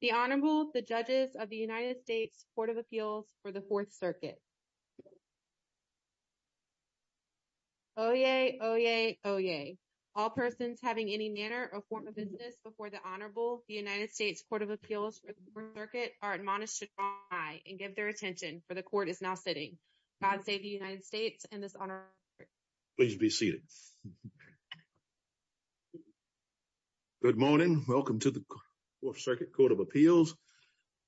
The Honorable, the Judges of the United States Court of Appeals for the Fourth Circuit. Oyez, oyez, oyez. All persons having any manner or form of business before the Honorable, the United States Court of Appeals for the Fourth Circuit are admonished to try and give their attention, for the Court is now sitting. God save the United States and this honored Please be seated. Good morning. Welcome to the Fourth Circuit Court of Appeals.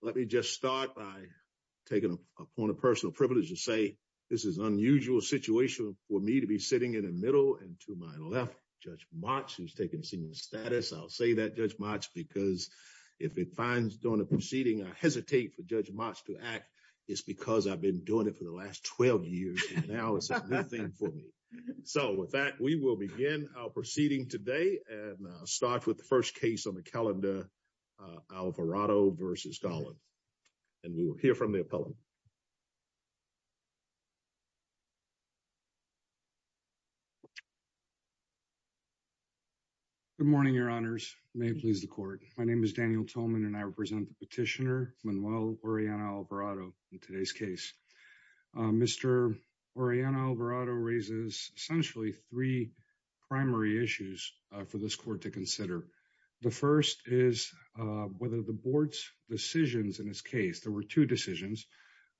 Let me just start by taking a point of personal privilege to say, this is an unusual situation for me to be sitting in the middle and to my left, Judge Motz, who's taking senior status. I'll say that, Judge Motz, because if it finds during the proceeding, I hesitate for Judge Motz to act, it's because I've been doing it for the last 12 years. And now it's a new thing for me. So with that, we will begin our proceeding today and start with the first case on the calendar, Alvarado v. Garland. And we will hear from the appellant. Good morning, Your Honors. May it please the Court. My name is Daniel Tolman and I represent the petitioner Manuel Oriana Alvarado in today's case. Mr. Oriana Alvarado raises essentially three primary issues for this Court to consider. The first is whether the Board's decisions in this case, there were two decisions,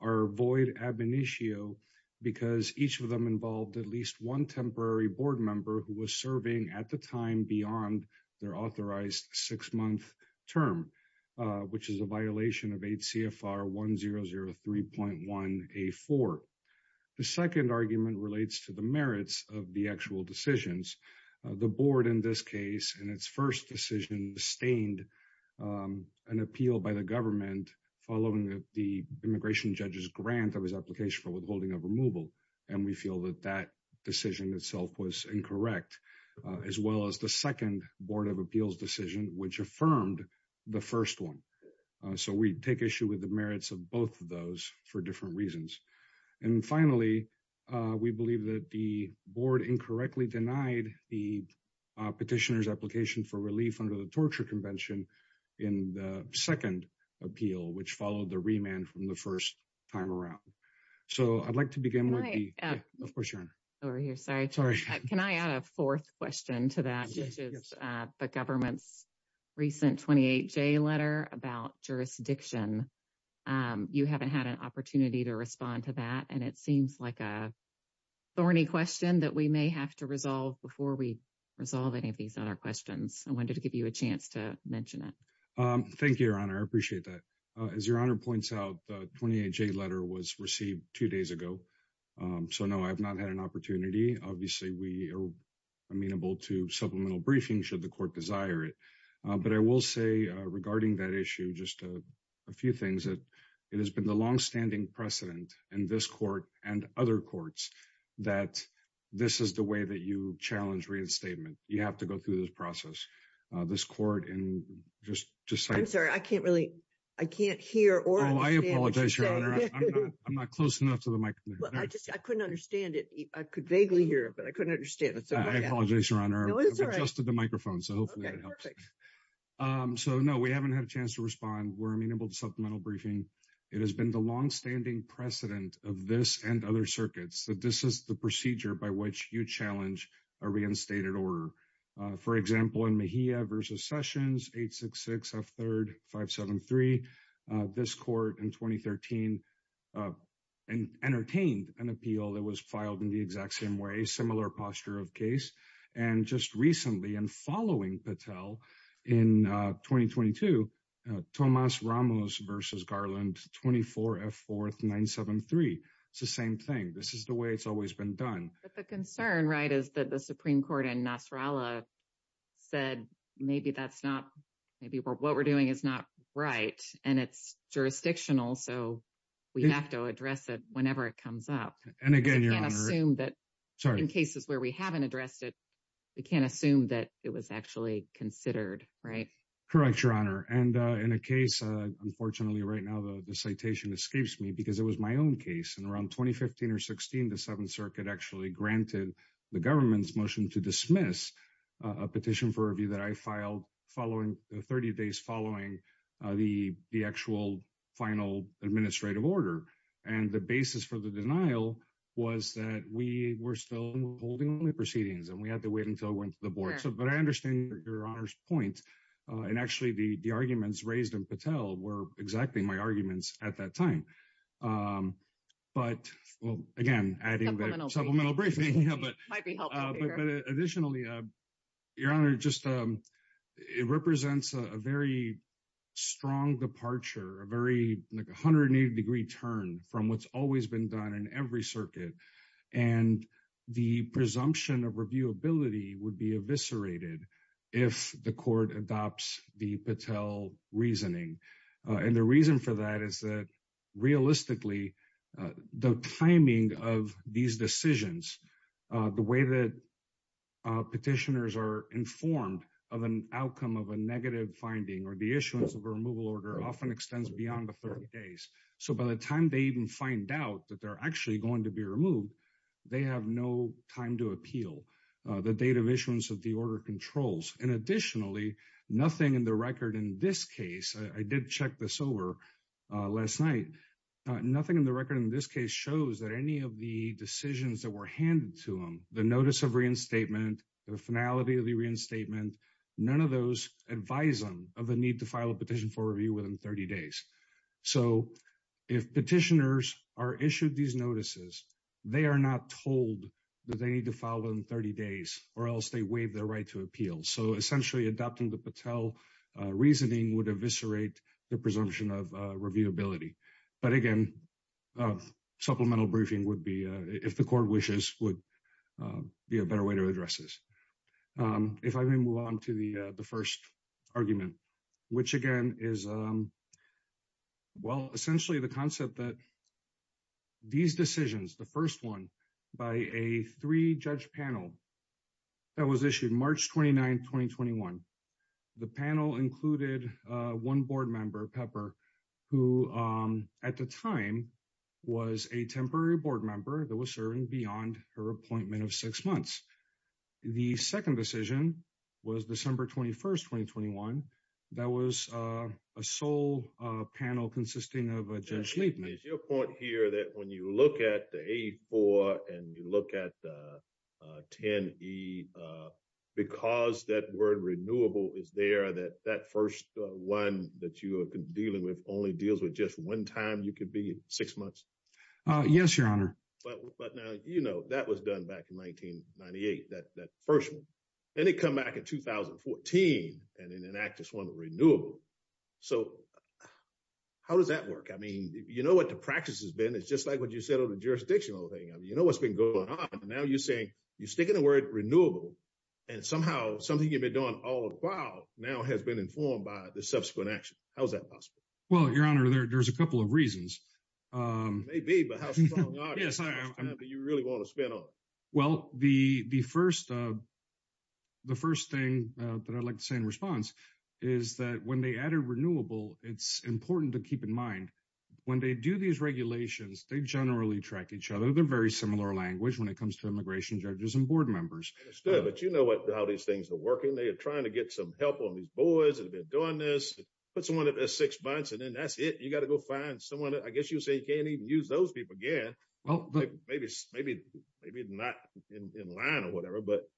are void ab initio because each of them involved at least one temporary Board member who was serving at the time beyond their authorized six-month term, which is a violation of 8 CFR 1003.1A4. The second argument relates to the merits of the actual decisions. The Board in this case in its first decision sustained an appeal by the government following the immigration judge's grant of his application for withholding of removal. And we feel that that decision itself was incorrect, as well as the second Board of Appeals decision, which affirmed the first one. So we take issue with the merits of both of those for different reasons. And finally, we believe that the Board incorrectly denied the petitioner's application for relief under the Torture Convention in the second appeal, which followed the remand from the first time around. So I'd like to begin with the... Can I... Yeah, of course, Your Honor. Over here, sorry. Sorry. Can I add a fourth question to that? Yes, yes. Which is the government's recent 28-J letter about jurisdiction. You haven't had an opportunity to respond to that, and it seems like a thorny question that we may have to resolve before we resolve any of these other questions. I wanted to give you a chance to mention it. Thank you, Your Honor. I appreciate that. As Your Honor points out, the 28-J letter was received two days ago. So no, I've not had an opportunity. Obviously, we are amenable to supplemental briefing should the court desire it. But I will say regarding that issue, just a few things. It has been the longstanding precedent in this court and other courts that this is the way that you challenge reinstatement. You have to go through this process. This court and just to say... I'm sorry, I can't really... I can't hear or understand what you're saying. I'm sorry, Your Honor. I'm not close enough to the mic. Well, I just couldn't understand it. I could vaguely hear it, but I couldn't understand I apologize, Your Honor. No, it's all right. I've adjusted the microphone, so hopefully that helps. Okay, perfect. So no, we haven't had a chance to respond. We're amenable to supplemental briefing. It has been the longstanding precedent of this and other circuits that this is the procedure by which you challenge a reinstated order. For example, in Mejia v. Sessions, 866F3R573, this court in 2013 entertained an appeal that was filed in the exact same way, similar posture of case. And just recently and following Patel in 2022, Tomas Ramos v. Garland, 24F4973. It's the same thing. This is the way it's always been done. But the concern, right, is that the Supreme Court in Nasrallah said, maybe that's not, maybe what we're doing is not right and it's jurisdictional. So we have to address it whenever it comes up. And again, Your Honor. Because we can't assume that in cases where we haven't addressed it, we can't assume that it was actually considered, right? Correct, Your Honor. And in a case, unfortunately, right now, the citation escapes me because it was my own case. And around 2015 or 16, the Seventh Circuit actually granted the government's motion to dismiss a petition for review that I filed 30 days following the actual final administrative order. And the basis for the denial was that we were still holding the proceedings and we had to wait until it went to the board. But I understand Your Honor's point. And actually, the arguments raised in Patel were exactly my arguments at that time. But, well, again, adding the supplemental briefing might be helpful. But additionally, Your Honor, it represents a very strong departure, a very 180 degree turn from what's always been done in every circuit. And the presumption of reviewability would be eviscerated if the court adopts the Patel reasoning. And the reason for that is that realistically, the timing of these decisions, the way that petitioners are informed of an outcome of a negative finding or the issuance of a removal order often extends beyond the 30 days. So by the time they even find out that they're actually going to be removed, they have no time to appeal the date of issuance of the order controls. And additionally, nothing in the record in this case, I did check this over last night, nothing in the record in this case shows that any of the decisions that were handed to them, the notice of reinstatement, the finality of the reinstatement, none of those advise them of the need to file a petition for review within 30 days. So if petitioners are issued these notices, they are not told that they need to file within 30 days. And the reasoning would eviscerate the presumption of reviewability. But again, supplemental briefing would be, if the court wishes, would be a better way to address this. If I may move on to the first argument, which again is, well, essentially the concept that these decisions, the first one by a three-judge panel that was issued March 29, 2021, the panel included one board member, Pepper, who at the time was a temporary board member that was serving beyond her appointment of six months. The second decision was December 21, 2021. That was a sole panel consisting of Judge Liebman. Is your point here that when you look at the A4 and you look at the 10E, because that word renewable is there, that that first one that you are dealing with only deals with just one time, you could be six months? Yes, Your Honor. But now, you know, that was done back in 1998, that first one. Then it come back in 2014, and in an act, just one renewable. So how does that work? I mean, you know what the practice has been. It's just like what you said on the jurisdictional thing. I mean, you know what's been going on. Now you're saying, you're sticking the word renewable, and somehow something you've been doing all the while now has been informed by the subsequent action. How is that possible? Well, Your Honor, there's a couple of reasons. Maybe, but how strong are you? Yes, I am. How much time do you really want to spend on it? Well, the first thing that I'd like to say in response is that when they added renewable, it's important to keep in mind, when they do these regulations, they generally track each other. They're very similar language when it comes to immigration judges and board members. But you know what, how these things are working. They are trying to get some help on these boys that have been doing this. Put someone up there six months, and then that's it. You got to go I guess you'd say you can't even use those people again. Maybe not in line or whatever. But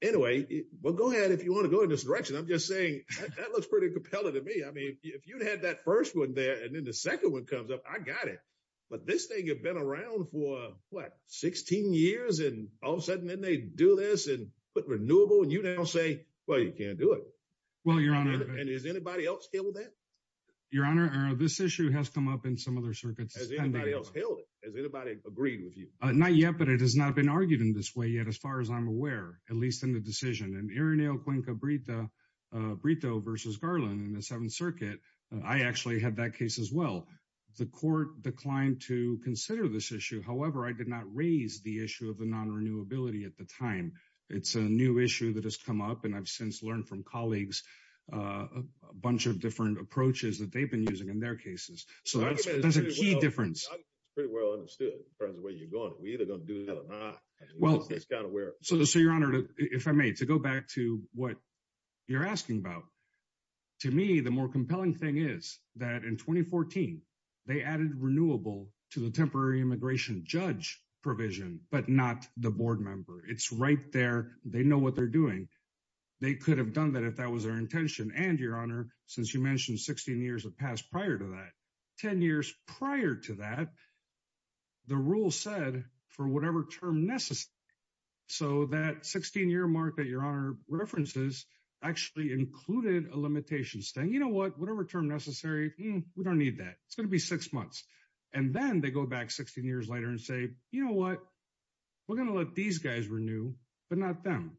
anyway, well, go ahead if you want to go in this direction. I'm just saying that looks pretty compelling to me. I mean, if you'd had that first one there, and then the second one comes up, I got it. But this thing had been around for what, 16 years, and all of a sudden, then they do this and put renewable, and you now say, well, you can't do it. Well, Your Honor. And is anybody else here with that? Your Honor, this issue has come up in some other circuits. Has anybody else held it? Has anybody agreed with you? Not yet, but it has not been argued in this way yet, as far as I'm aware, at least in the decision. And Irineo Cuenca Brito versus Garland in the Seventh Circuit, I actually had that case as well. The court declined to consider this issue. However, I did not raise the issue of the non-renewability at the time. It's a new issue that has come up, and I've since learned from colleagues a bunch of different approaches that they've been using in their cases. So that's a key difference. I think it's pretty well understood, as far as the way you're going. We're either going to do that or not. It's kind of where... So, Your Honor, if I may, to go back to what you're asking about, to me, the more compelling thing is that in 2014, they added renewable to the temporary immigration judge provision, but not the board member. It's right there. They know what they're doing. They could have done that if that was their intention. And, Your Honor, since you mentioned 16 years have passed prior to that, 10 years prior to that, the rule said for whatever term necessary. So that 16-year mark that Your Honor references actually included a limitation saying, you know what, whatever term necessary, we don't need that. It's going to be six months. And then they go back 16 years later and say, you know what, we're going to let these guys renew, but not them.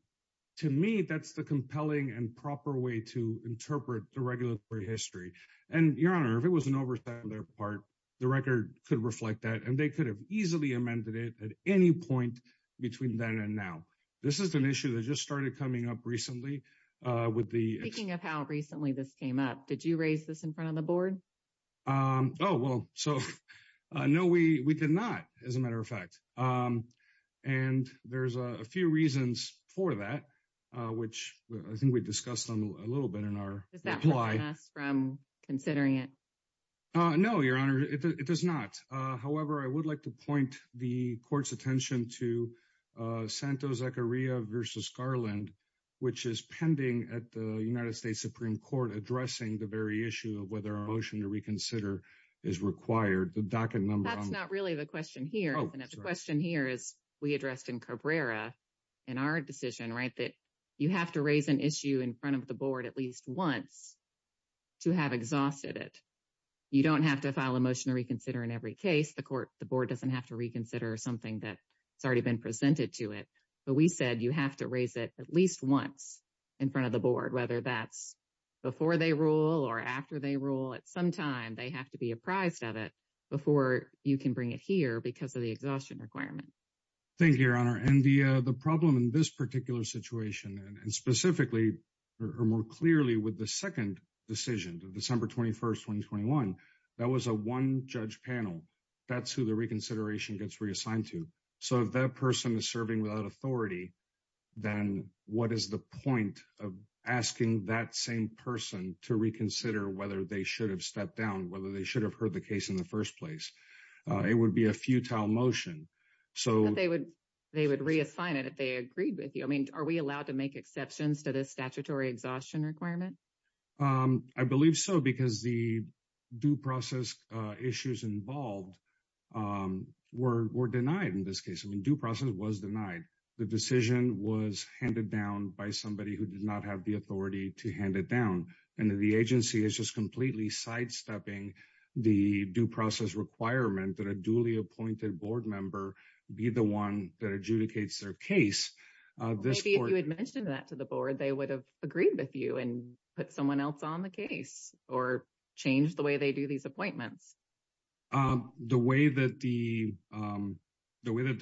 To me, that's the compelling and proper way to interpret the regulatory history. And, Your Honor, if it was an oversight on their part, the record could reflect that and they could have easily amended it at any point between then and now. This is an issue that just started coming up recently with the... Speaking of how recently this came up, did you raise this in front of the board? Oh, well, so, no, we did not, as a matter of fact. And there's a few reasons for that, which I think we discussed a little bit in our reply. Does that prevent us from considering it? No, Your Honor, it does not. However, I would like to point the court's attention to Santos-Zecaria versus Garland, which is pending at the United States Supreme Court addressing the very issue of whether a motion to reconsider is required. The docket number... That's not really the question here. The question here is we addressed in Cabrera in our decision, right, that you have to raise an issue in front of the board at least once to have exhausted it. You don't have to file a motion to reconsider in every case. The court, the board doesn't have to reconsider something that's already been presented to it. But we said, you have to raise it at least once in front of the board, whether that's before they rule or after they rule. At some time, they have to be apprised of it before you can bring it here because of the exhaustion requirement. Thank you, Your Honor. And the problem in this particular situation, and specifically, or more clearly with the second decision, December 21st, 2021, that was a one-judge panel. That's who the reconsideration gets reassigned to. So if that person is serving without authority, then what is the point of asking that same person to reconsider whether they should have stepped down, whether they should have heard the case in the first place? It would be a futile motion. So... They would reassign it if they agreed with you. I mean, are we allowed to make exceptions to this statutory exhaustion requirement? I believe so, because the due process issues involved were denied in this case. I mean, due process was denied. The decision was handed down by somebody who did not have the authority to hand it down. And the agency is just completely sidestepping the due process requirement that a duly appointed board member be the one that adjudicates their case. Maybe if you had mentioned that to the board, they would have agreed with you and put someone else on the case, or change the way they do these appointments. The way that the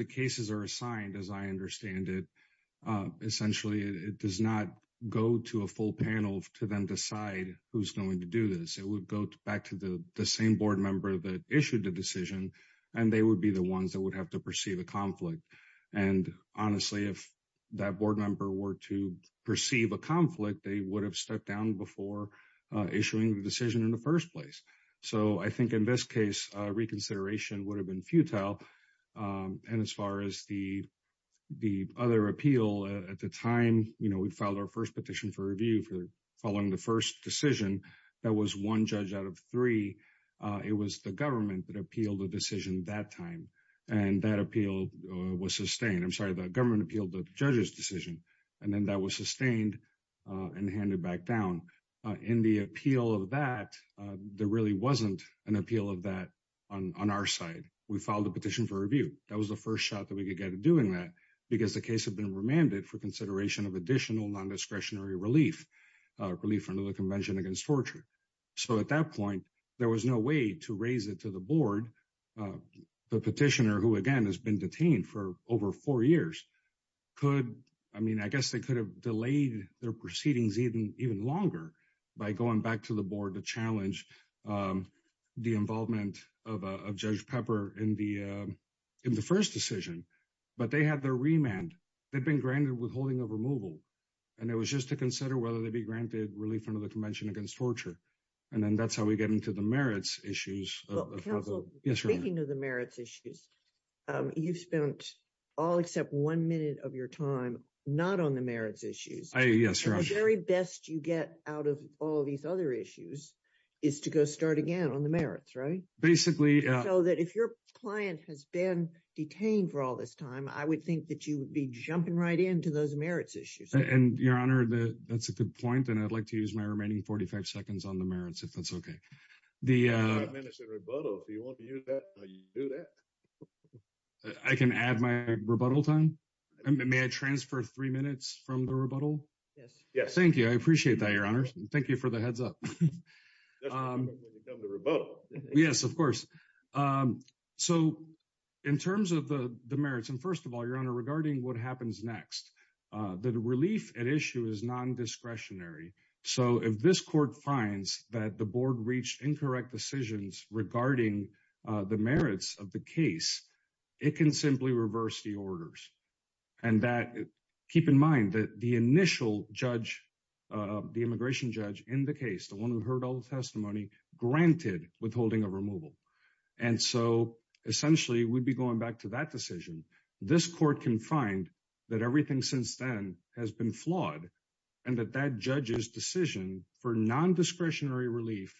cases are assigned, as I understand it, essentially, it does not go to a full panel to then decide who's going to do this. It would go back to the same board member that issued the decision, and they would be the ones that would have to perceive a conflict. And honestly, if that board member were to perceive a conflict, they would have stepped down before issuing the decision in the first place. So I think in this case, reconsideration would have been futile. And as far as the other appeal, at the time, we filed our first petition for review for following the first decision, that was one judge out of three. It was the government that appealed the decision that time. And that appeal was sustained. I'm sorry, the government appealed the judge's decision, and then that was sustained and handed back down. In the appeal of that, there really wasn't an appeal of that on our side. We filed a petition for review. That was the first shot that we could get at doing that, because the case had been remanded for consideration of additional non-discretionary relief, relief from the Convention Against Torture. So at that point, there was no way to raise it to the board. The petitioner, who, again, has been detained for over four years, could, I mean, I guess they could have delayed their proceedings even longer by going back to the board to challenge the involvement of Judge Pepper in the first decision. But they had their remand. They'd been granted withholding of removal. And it was just to consider whether they'd be granted relief from the Convention Against Torture. And then that's how we get into the merits issues. Well, counsel, speaking of the merits issues, you've spent all except one minute of your time not on the merits issues. Yes, Your Honor. The very best you get out of all these other issues is to go start again on the merits, right? Basically... So that if your client has been detained for all this time, I would think that you would be jumping right into those merits issues. And Your Honor, that's a good point. And I'd like to use my remaining 45 seconds on the merits, if that's okay. The... You have five minutes in rebuttal. If you want to use that, you can do that. I can add my rebuttal time. And may I transfer three minutes from the rebuttal? Yes. Yes. Thank you. I appreciate that, Your Honor. Thank you for the heads up. Just remember to come to rebuttal. Yes, of course. So in terms of the merits, and first of all, Your Honor, regarding what happens next, the relief at issue is non-discretionary. So if this court finds that the board reached incorrect decisions regarding the merits of the case, it can simply reverse the orders. And that... Keep in mind that the initial judge, the immigration judge in the case, the one who heard all the testimony, granted withholding of removal. And so essentially, we'd be going back to that decision. This court can find that everything since then has been flawed, and that that judge's decision for non-discretionary relief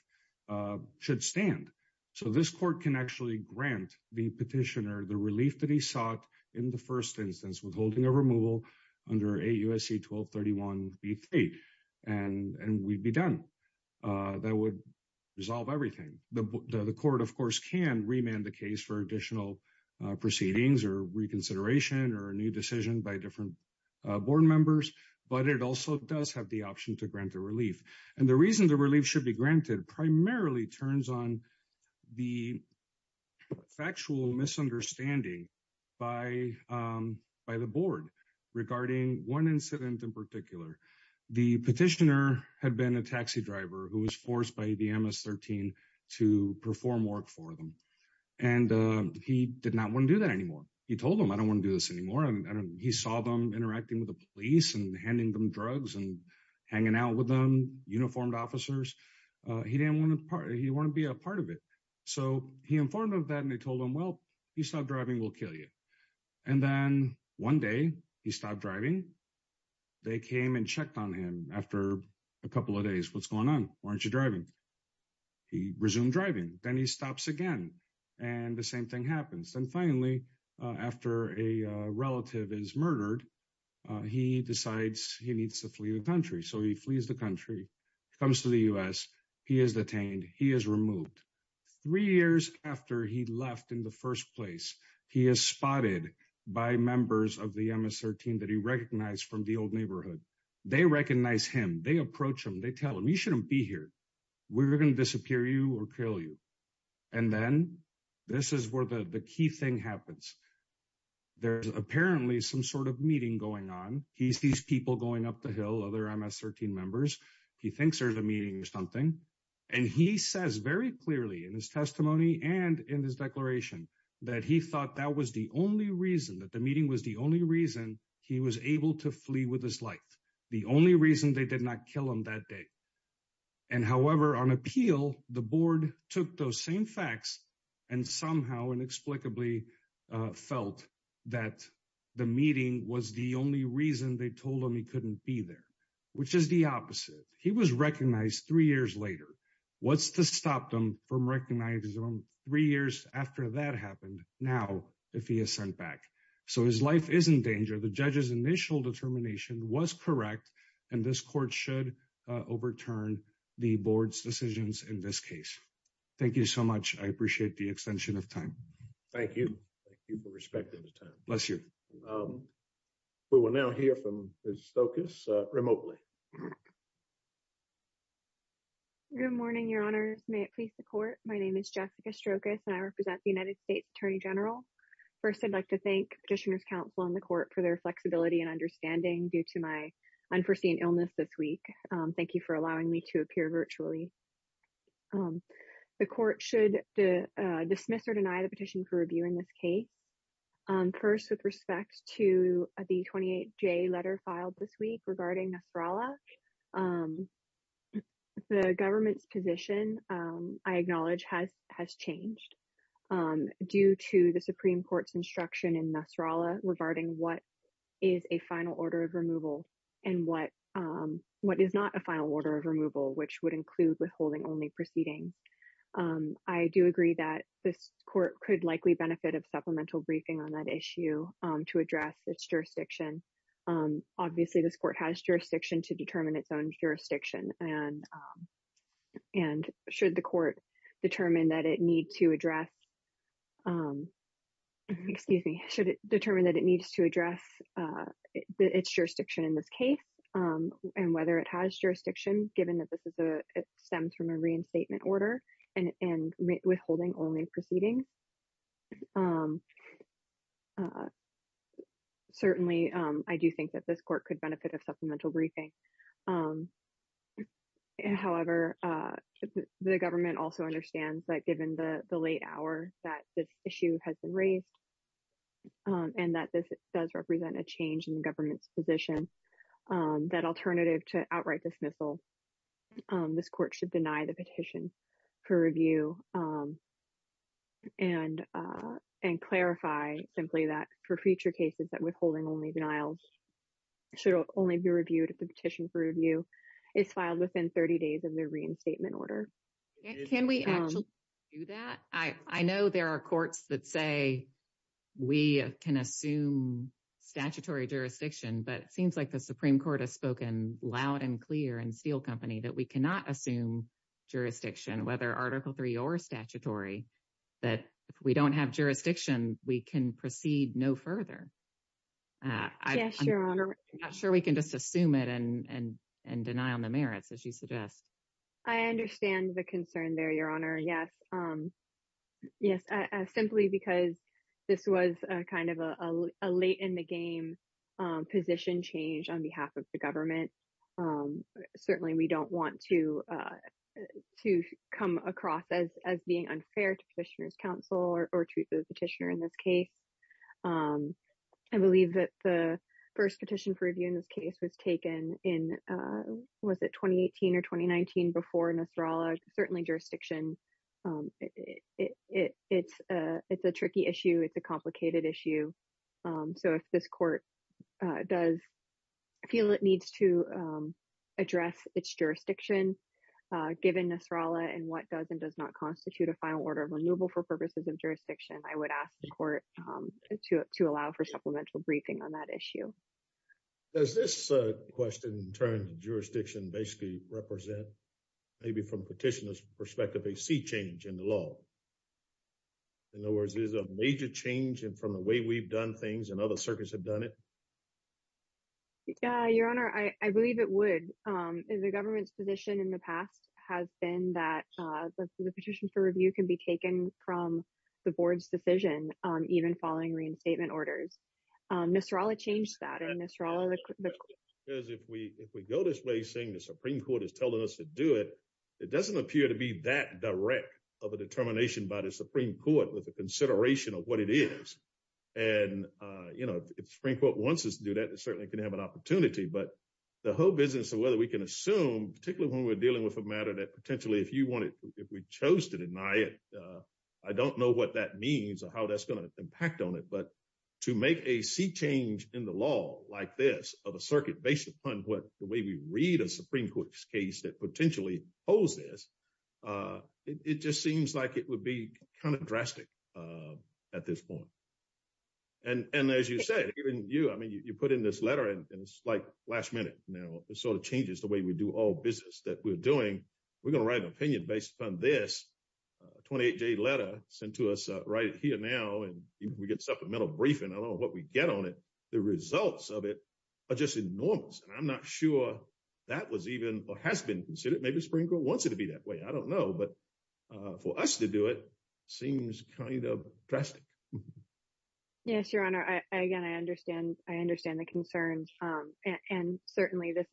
should stand. So this court can actually grant the petitioner the relief that he sought in the first instance, withholding of removal under AUSC 1231B3. And we'd be done. That would resolve everything. The court, of course, can remand the case for reconsideration or a new decision by different board members, but it also does have the option to grant the relief. And the reason the relief should be granted primarily turns on the factual misunderstanding by the board regarding one incident in particular. The petitioner had been a taxi driver who was forced by the MS-13 to perform work for them. And he did not want to do that anymore. He told them, I don't want to do this anymore. He saw them interacting with the police and handing them drugs and hanging out with them, uniformed officers. He didn't want to be a part of it. So he informed them of that, and they told him, well, you stop driving, we'll kill you. And then one day he stopped driving. They came and checked on him after a couple of days. What's going on? Why aren't you driving? He resumed driving. Then he stops again, and the same thing happens. And finally, after a relative is murdered, he decides he needs to flee the country. So he flees the country, comes to the U.S., he is detained, he is removed. Three years after he left in the first place, he is spotted by members of the MS-13 that he recognized from the old neighborhood. They recognize him. They approach him. They tell him, you shouldn't be here. We're going to disappear you or kill you. And then this is where the key thing happens. There's apparently some sort of meeting going on. He sees people going up the hill, other MS-13 members. He thinks there's a meeting or something. And he says very clearly in his testimony and in his declaration that he thought that was the only reason, that the meeting was the only reason he was able to flee with his life, the only reason they did not kill him that day. And however, on appeal, the board took those same facts and somehow inexplicably felt that the meeting was the only reason they told him he couldn't be there, which is the opposite. He was recognized three years later. What's to stop them from recognizing him three years after that happened now if he is sent back? So his life is in danger. The judge's initial determination was correct. And this court should overturn the board's decisions in this case. Thank you so much. I appreciate the extension of time. Thank you. Thank you for respecting the time. Bless you. We will now hear from Ms. Stokas remotely. Good morning, Your Honors. May it please the court. My name is Jessica Stokas, and I represent the United States Attorney General. First, I'd like to thank Petitioners' Counsel and the court for their flexibility and understanding due to my unforeseen illness this week. Thank you for allowing me to appear virtually. The court should dismiss or deny the petition for review in this case. First, with respect to the 28J letter filed this week regarding Nostralgia, the government's position, I acknowledge, has changed due to the Supreme Court's instruction in Nasrallah regarding what is a final order of removal and what is not a final order of removal, which would include withholding only proceedings. I do agree that this court could likely benefit of supplemental briefing on that issue to address its jurisdiction. Obviously, this court has to determine its own jurisdiction, and should the court determine that it needs to address its jurisdiction in this case, and whether it has jurisdiction, given that this stems from a reinstatement order, and withholding only proceedings. Certainly, I do think that this court could benefit of supplemental briefing. However, the government also understands that given the late hour that this issue has been raised, and that this does represent a change in the government's position, that alternative to outright dismissal, this court should deny the petition for review and clarify simply that for future cases that withholding only denials should only be reviewed if the petition for review is filed within 30 days of the reinstatement order. Can we actually do that? I know there are courts that say we can assume statutory jurisdiction, but it seems like the Supreme Court has spoken loud and clear in Steel Company that we cannot assume jurisdiction, whether Article III or statutory, that if we don't have jurisdiction, we can proceed no further. Yes, Your Honor. I'm not sure we can just assume it and deny on the merits, as you suggest. I understand the concern there, Your Honor. Yes. Yes, simply because this was a kind of a late in the game position change on behalf of the government. Certainly, we don't want to come across as being unfair to Petitioner's Council or to the petitioner in this case. I believe that the first petition for review in this case was taken in, was it 2018 or 2019 before Nasrallah? Certainly jurisdiction. It's a tricky issue. It's a complicated issue. So if this court does feel it needs to address its jurisdiction given Nasrallah and what does and does not constitute a final order of renewal for purposes of jurisdiction, I would ask the court to allow for supplemental briefing on that issue. Does this question in terms of jurisdiction basically represent, maybe from Petitioner's perspective, a sea change in the law? In other words, is it a major change from the way we've done things and other circuits have done it? Yeah, Your Honor. I believe it would. The government's position in the past has been that the petition for review can be taken from the board's decision even following reinstatement orders. Nasrallah changed that and Nasrallah- Because if we go this way saying the Supreme Court is telling us to do it, it doesn't appear to be that direct of a determination by the Supreme Court with a consideration of what it is. And if the Supreme Court wants us to do that, it certainly can have an opportunity. But the whole business of whether we can assume, particularly when we're dealing with a matter that potentially if we chose to deny it, I don't know what that means or how that's going to impact on it. But to make a sea change in the law like this of a circuit based upon the way we read a Supreme Court's case that potentially holds this, it just seems like it would be kind of drastic at this point. And as you said, even you, I mean, you put in this letter and it's like last minute now. It sort of changes the way we do all business that we're doing. We're going to write an opinion based upon this 28-day letter sent to us right here now, and we get supplemental briefing. I don't know what we get on it. The results of it are just enormous. And I'm not sure that was even or has been considered. Maybe the Supreme Court wants it to be that way. I don't know. But for us to do it seems kind of drastic. Yes, Your Honor. Again, I understand the concerns. And certainly this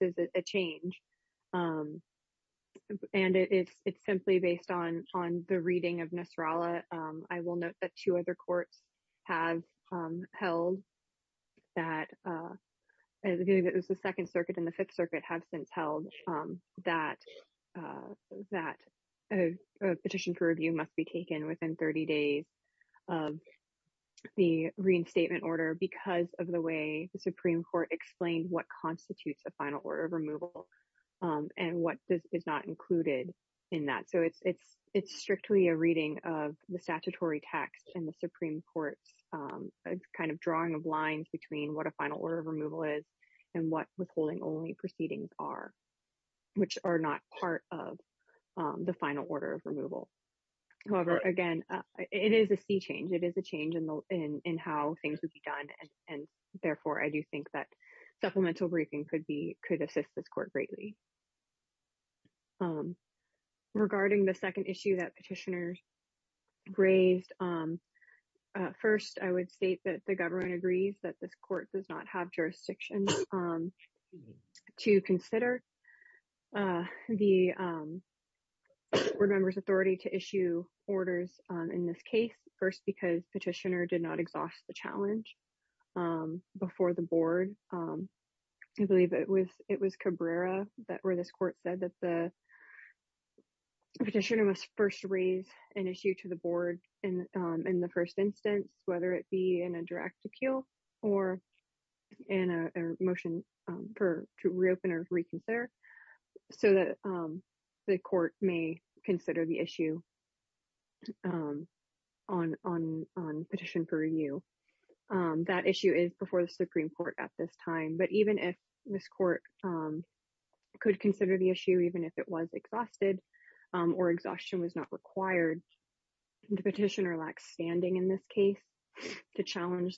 is a change. And it's simply based on the reading of Nasrallah. I will note that two other courts have held that as the Second Circuit and the Fifth Circuit have since held that a petition for review must be taken within 30 days of the reinstatement order because of the way the Supreme Court explained what constitutes a final order of removal and what is not included in that. So it's strictly a reading of the statutory text and the Supreme Court's kind of drawing of lines between what a final order of removal is and what withholding only proceedings are, which are not part of the final order of removal. However, again, it is a sea change. It is a change in how things would be done. And therefore, I do think that supplemental briefing could assist this court greatly. Regarding the second issue that petitioners raised, first, I would state that government agrees that this court does not have jurisdiction to consider the board member's authority to issue orders in this case, first, because petitioner did not exhaust the challenge before the board. I believe it was Cabrera where this court said that the petitioner must first raise an issue to the board in the first instance, whether it be in a direct appeal or in a motion to reopen or reconsider so that the court may consider the issue on petition for review. That issue is before the Supreme Court at this time, but even if this court could consider the issue, even if it was exhausted or exhaustion was not required, the petitioner lacks standing in this case to challenge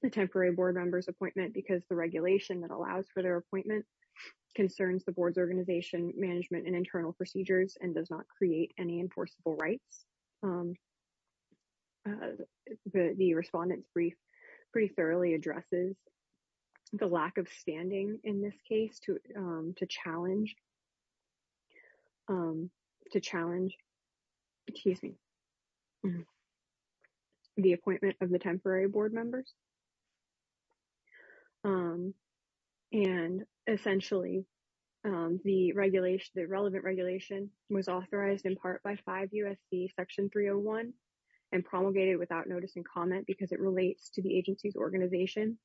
the temporary board member's appointment because the regulation that allows for their appointment concerns the board's organization management and internal procedures and does not create any enforceable rights. The respondent's brief pretty thoroughly addresses the lack of standing in this case to challenge the appointment of the temporary board members. And essentially, the relevant regulation was authorized in part by 5 U.S.C. section 301 and promulgated without notice and comment because it relates to the agency's organization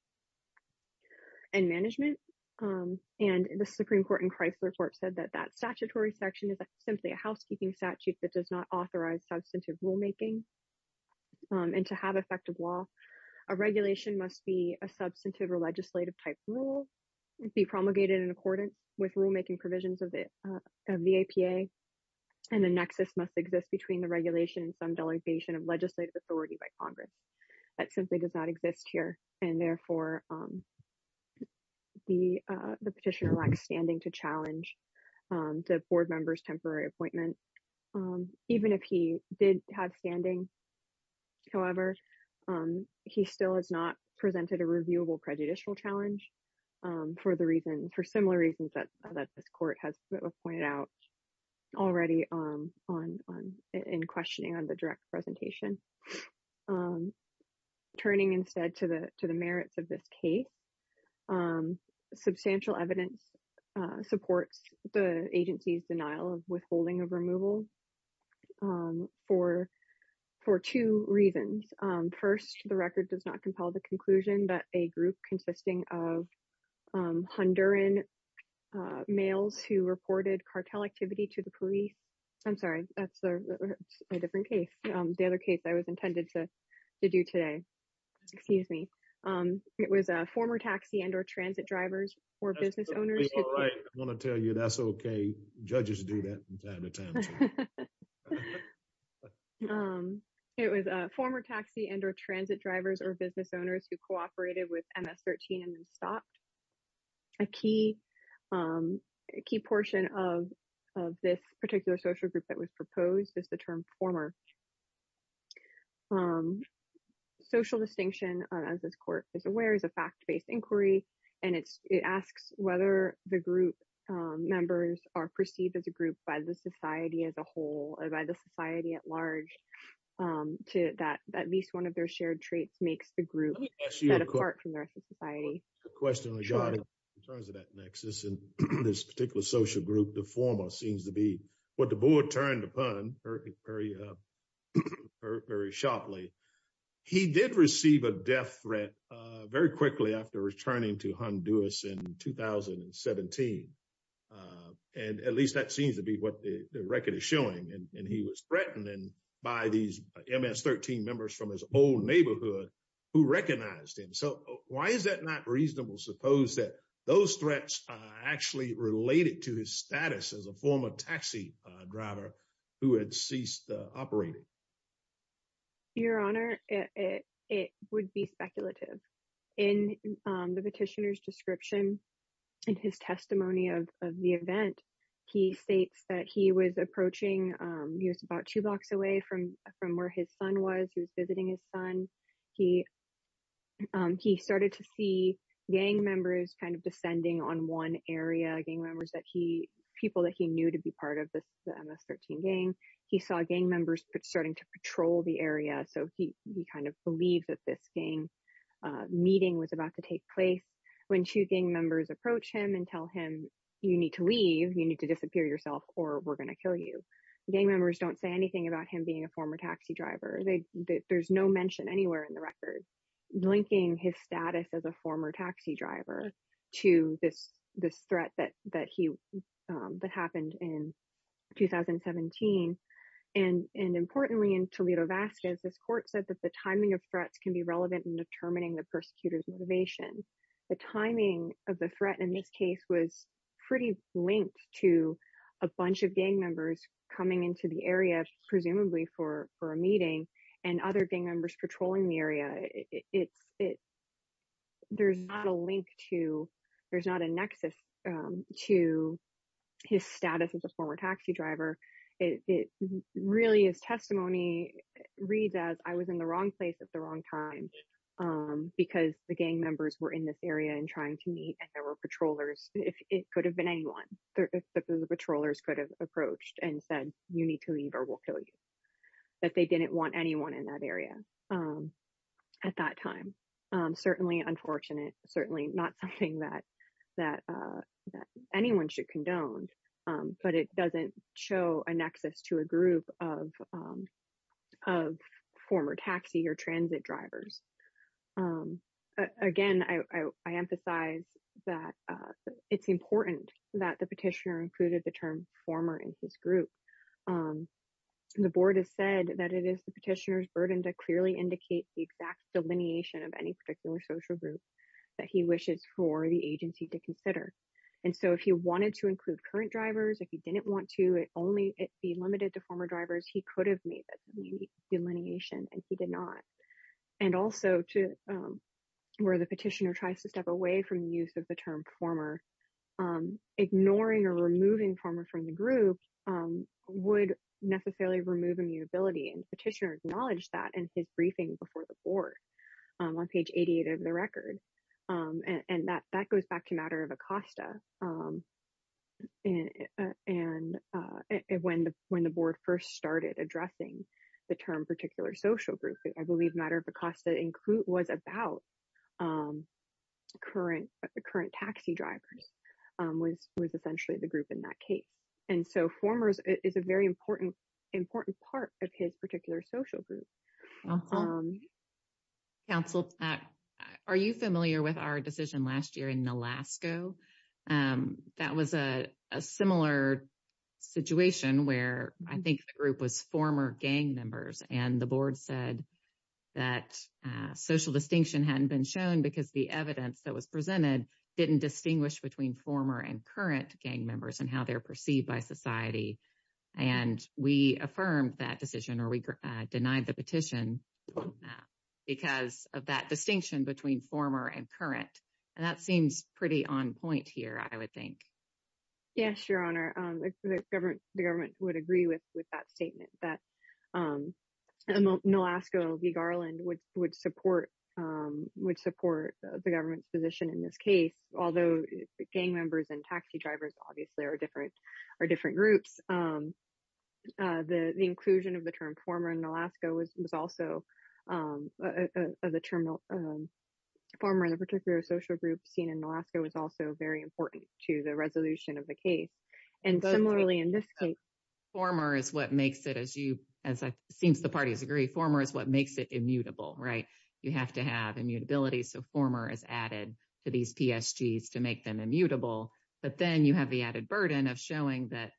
and management. And the Supreme Court in Chrysler court said that that statutory section is simply a housekeeping statute that does not authorize substantive rulemaking and to have effective law a regulation must be a substantive or legislative type rule and be promulgated in accordance with rulemaking provisions of the APA and the nexus must exist between the regulation and some delegation of legislative authority by Congress. That simply does not exist here and therefore the petitioner lacks standing to challenge the board member's temporary appointment. Even if he did have standing, however, he still has not presented a reviewable prejudicial challenge for similar reasons that this court has pointed out already in questioning on the direct presentation. Turning instead to the merits of this case, substantial evidence supports the agency's denial of withholding of removal for two reasons. First, the record does not compel the conclusion that a group consisting of Honduran males who reported cartel activity to the police, I'm sorry that's a different case, the other case I was intended to do today, excuse me, it was a former taxi and or transit drivers or business owners. I'm going to tell you that's okay, judges do that from time to time. It was a former taxi and or transit drivers or business owners who cooperated with MS-13 and then stopped. A key portion of this particular social group that was proposed is the term former social distinction, as this court is aware, is a fact-based inquiry and it's it asks whether the group members are perceived as a group by the society as a whole or by the society at large to that at least one of their shared traits makes the group set apart from the rest of society. Good question, in terms of that nexus and this particular social group, the former seems to be the board turned upon very sharply. He did receive a death threat very quickly after returning to Honduras in 2017. And at least that seems to be what the record is showing and he was threatened by these MS-13 members from his old neighborhood who recognized him. So why is that not reasonable suppose that those threats actually related to his status as a former taxi driver who had ceased operating? Your honor, it would be speculative. In the petitioner's description, in his testimony of the event, he states that he was approaching, he was about two blocks away from where his son was, he was visiting his son. He started to see gang members kind of descending on one area, gang members that he, people that he knew to be part of the MS-13 gang. He saw gang members starting to patrol the area, so he kind of believed that this gang meeting was about to take place. When two gang members approach him and tell him you need to leave, you need to disappear yourself, or we're going to kill you, gang members don't say anything about him being a former taxi driver. There's no mention anywhere in the record linking his status as a former taxi driver to this threat that happened in 2017. And importantly, in Toledo Vasquez, this court said that the timing of threats can be relevant in determining the persecutor's motivation. The timing of the threat in this case was pretty linked to a bunch of gang members coming into the and other gang members patrolling the area. It's, there's not a link to, there's not a nexus to his status as a former taxi driver. It really is testimony reads as I was in the wrong place at the wrong time because the gang members were in this area and trying to meet and there were patrollers, it could have been anyone, the patrollers could have approached and said you need to leave or we'll kill you, but they didn't want anyone in that area at that time. Certainly unfortunate, certainly not something that anyone should condone, but it doesn't show a nexus to a group of former taxi or transit drivers. Again, I emphasize that it's important that the petitioner included the term former in this group. The board has said that it is the petitioner's burden to clearly indicate the exact delineation of any particular social group that he wishes for the agency to consider. And so if he wanted to include current drivers, if he didn't want to only be limited to former drivers, he could have made that delineation and he did not. And also to where the petitioner tries to step away from the use of the term former, ignoring or removing former from the group would necessarily remove immutability and petitioner acknowledged that in his briefing before the board on page 88 of the record. And that goes back to Matter of Acosta. And when the board first started addressing the term particular social group, I believe Matter of Acosta was about current taxi drivers was essentially the group in that case. And so formers is a very important part of his particular social group. Council, are you familiar with our decision last year in Alaska? That was a similar situation where I think the group was former gang members and the board said that social distinction hadn't been shown because the evidence that was presented didn't distinguish between former and current gang members and how they're perceived by society. And we affirmed that decision or we denied the petition because of that distinction between former and current. And that seems pretty on point here, I would think. Yes, Your Honor. The government would agree with that statement that Nolasco v. Garland would support the government's position in this case, although gang members and taxi drivers obviously are different groups. The inclusion of the term social group seen in Nolasco was also very important to the resolution of the case. And similarly in this case, former is what makes it as you, as I think the parties agree, former is what makes it immutable, right? You have to have immutability. So former is added to these PSGs to make them immutable. But then you have the added burden of showing that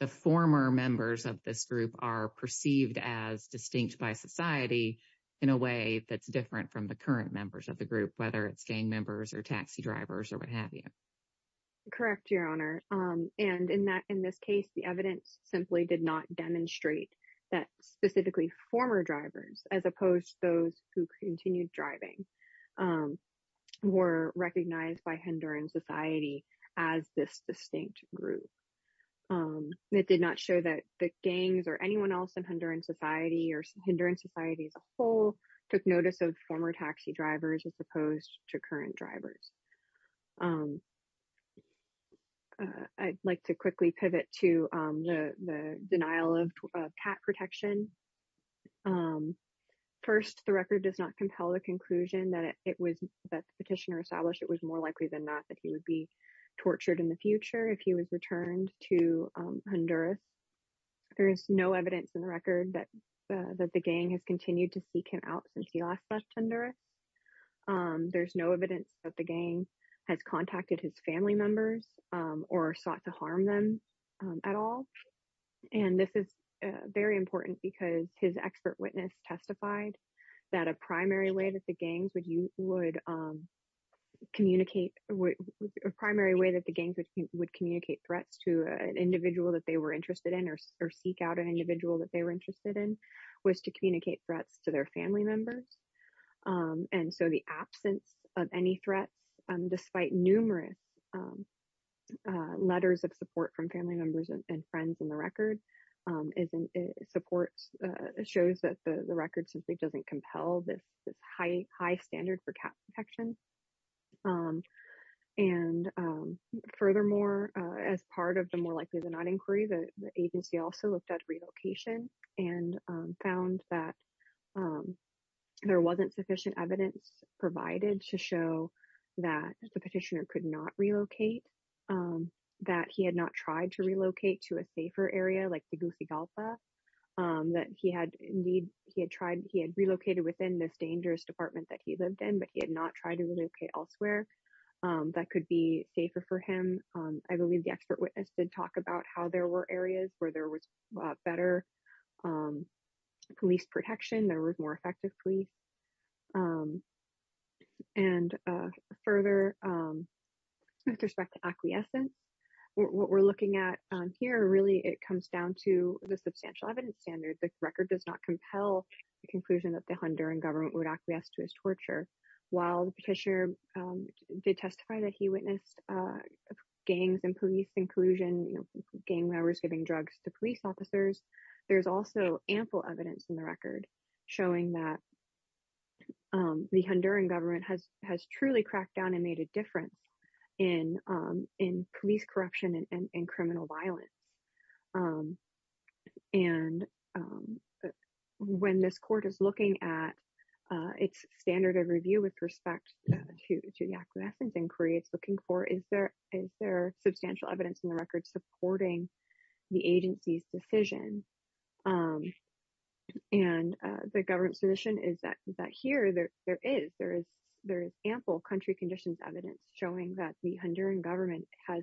the former members of this group are perceived as distinct by society in a way that's different from the current members of the group, whether it's gang members or taxi drivers or what have you. Correct, Your Honor. And in this case, the evidence simply did not demonstrate that specifically former drivers, as opposed to those who continued driving, were recognized by Honduran society as this distinct group. It did not show that the gangs or anyone else in Honduran society or Honduran society as a whole took notice of former taxi drivers as opposed to current drivers. I'd like to quickly pivot to the denial of cat protection. First, the record does not compel the conclusion that the petitioner established it was more likely than not that he would be tortured in the future if he was returned to Honduras. There is no evidence in the record that the gang has continued to seek him out since he last left Honduras. There's no evidence that the gang has contacted his family members or sought to harm them at all. And this is very important because his expert witness testified that a primary way that the gangs would communicate, a primary way that the gangs would communicate threats to an individual that they were interested in or seek out an individual that they were interested in, was to communicate threats to their family members. And so the absence of any threats, despite numerous letters of support from family members and friends in the record, support shows that the record simply doesn't compel this high standard for cat protection. And furthermore, as part of the more likely than not inquiry, the agency also looked at relocation and found that there wasn't sufficient evidence provided to show that the petitioner could not relocate, that he had not tried to relocate to a safer area like the Gusigalpa, that he had indeed, he had tried, he had relocated within this dangerous department that he lived in, but he had not tried to relocate elsewhere that could be safer for him. I believe the expert witness did talk about how there were areas where there was better police protection, there was more effective police. And further, with respect to acquiescence, what we're looking at here, really, it comes down to the substantial evidence standard. The record does not compel the conclusion that the Honduran government would acquiesce to his torture. While the petitioner did testify that he witnessed gangs and police inclusion, gang members giving drugs to police officers, there's also ample evidence in the record showing that the Honduran government has truly cracked down and made a difference in police corruption and criminal violence. And when this court is looking at its standard of review with respect to the acquiescence inquiry, it's looking for, is there substantial evidence in the record supporting the agency's decision? And the government's position is that here, there is. There is ample country conditions evidence showing that the Honduran government has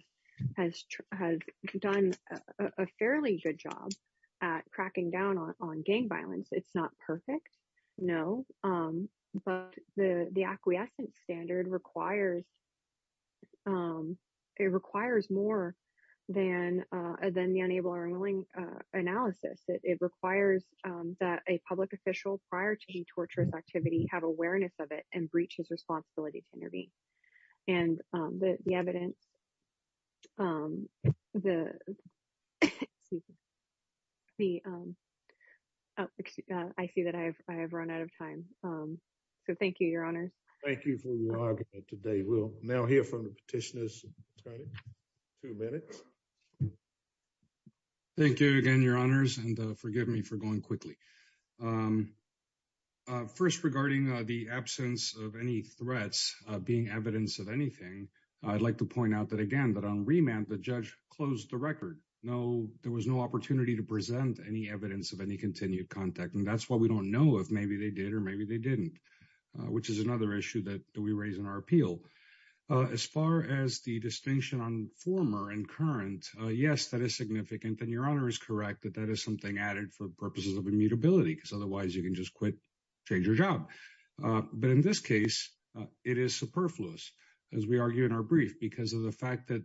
done a fairly good job at cracking down on gang violence. It's not perfect, no, but the acquiescence standard requires more than the unable or unwilling analysis. It requires that a public official, prior to the torturous activity, have awareness of it and breach his responsibility to intervene. And the evidence, I see that I have run out of time. So thank you, Your Honors. Thank you for your argument today. We'll now hear from the petitioners. Tony, two minutes. Thank you again, Your Honors, and forgive me for going quickly. First, regarding the absence of any threats being evidence of anything, I'd like to point out that, again, that on remand, the judge closed the record. No, there was no opportunity to present any evidence of any continued contact. And that's why we don't know if maybe they did or maybe they didn't, which is another issue that we raise in our appeal. As far as the distinction on former and current, yes, that is significant. And Your Honor is correct, that that is something added for purposes of immutability, because otherwise you can just quit, change your job. But in this case, it is superfluous, as we argue in our brief, because of the fact that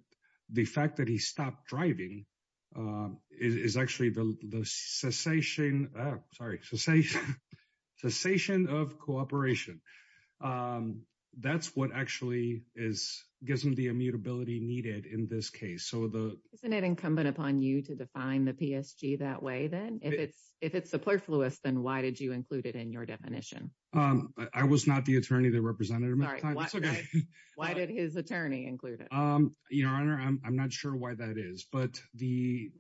the fact that he stopped driving is actually the cessation, sorry, cessation of cooperation. That's what actually gives him the immutability needed in this case. Isn't it incumbent upon you to define the PSG that way then? If it's superfluous, then why did you include it in your definition? I was not the attorney that represented him at the time. Why did his attorney include it? Your Honor, I'm not sure why that is. But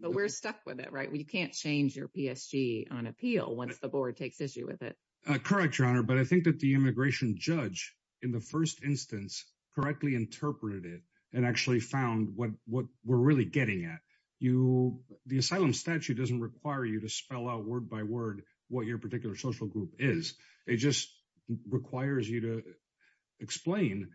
we're stuck with it, right? We can't change your PSG on appeal once the board takes issue with it. Correct, Your Honor. But I think that the immigration judge in the first instance correctly interpreted it and actually found what we're really getting at. The asylum statute doesn't require you to spell out word by word what your particular social group is. It just requires you to explain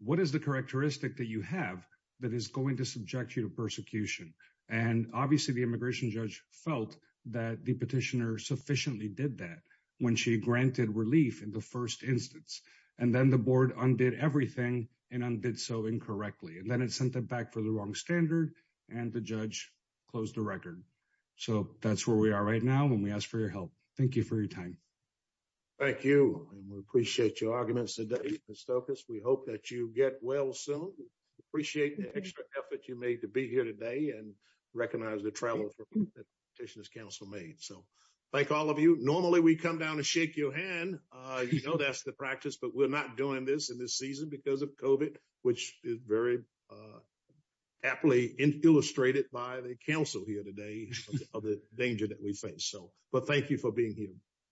what is the characteristic that you have that is going to subject you to persecution. And obviously, the immigration judge felt that the petitioner sufficiently did that when she granted relief in the first instance. And then the board undid everything and undid so incorrectly. And then it sent it back for the wrong standard, and the judge closed the record. So that's where we are right now when we ask for your help. Thank you for your time. Thank you. And we appreciate your arguments today, Mr. Stokas. We hope that you get well soon. Appreciate the extra effort you made to be here today and recognize the travel that Petitioner's Council made. So thank all of you. Normally, we come down and shake your hand. You know that's the practice, but we're not doing this in this season because of COVID, which is very aptly illustrated by the council here today of the danger that we face. So, but thank you for being here.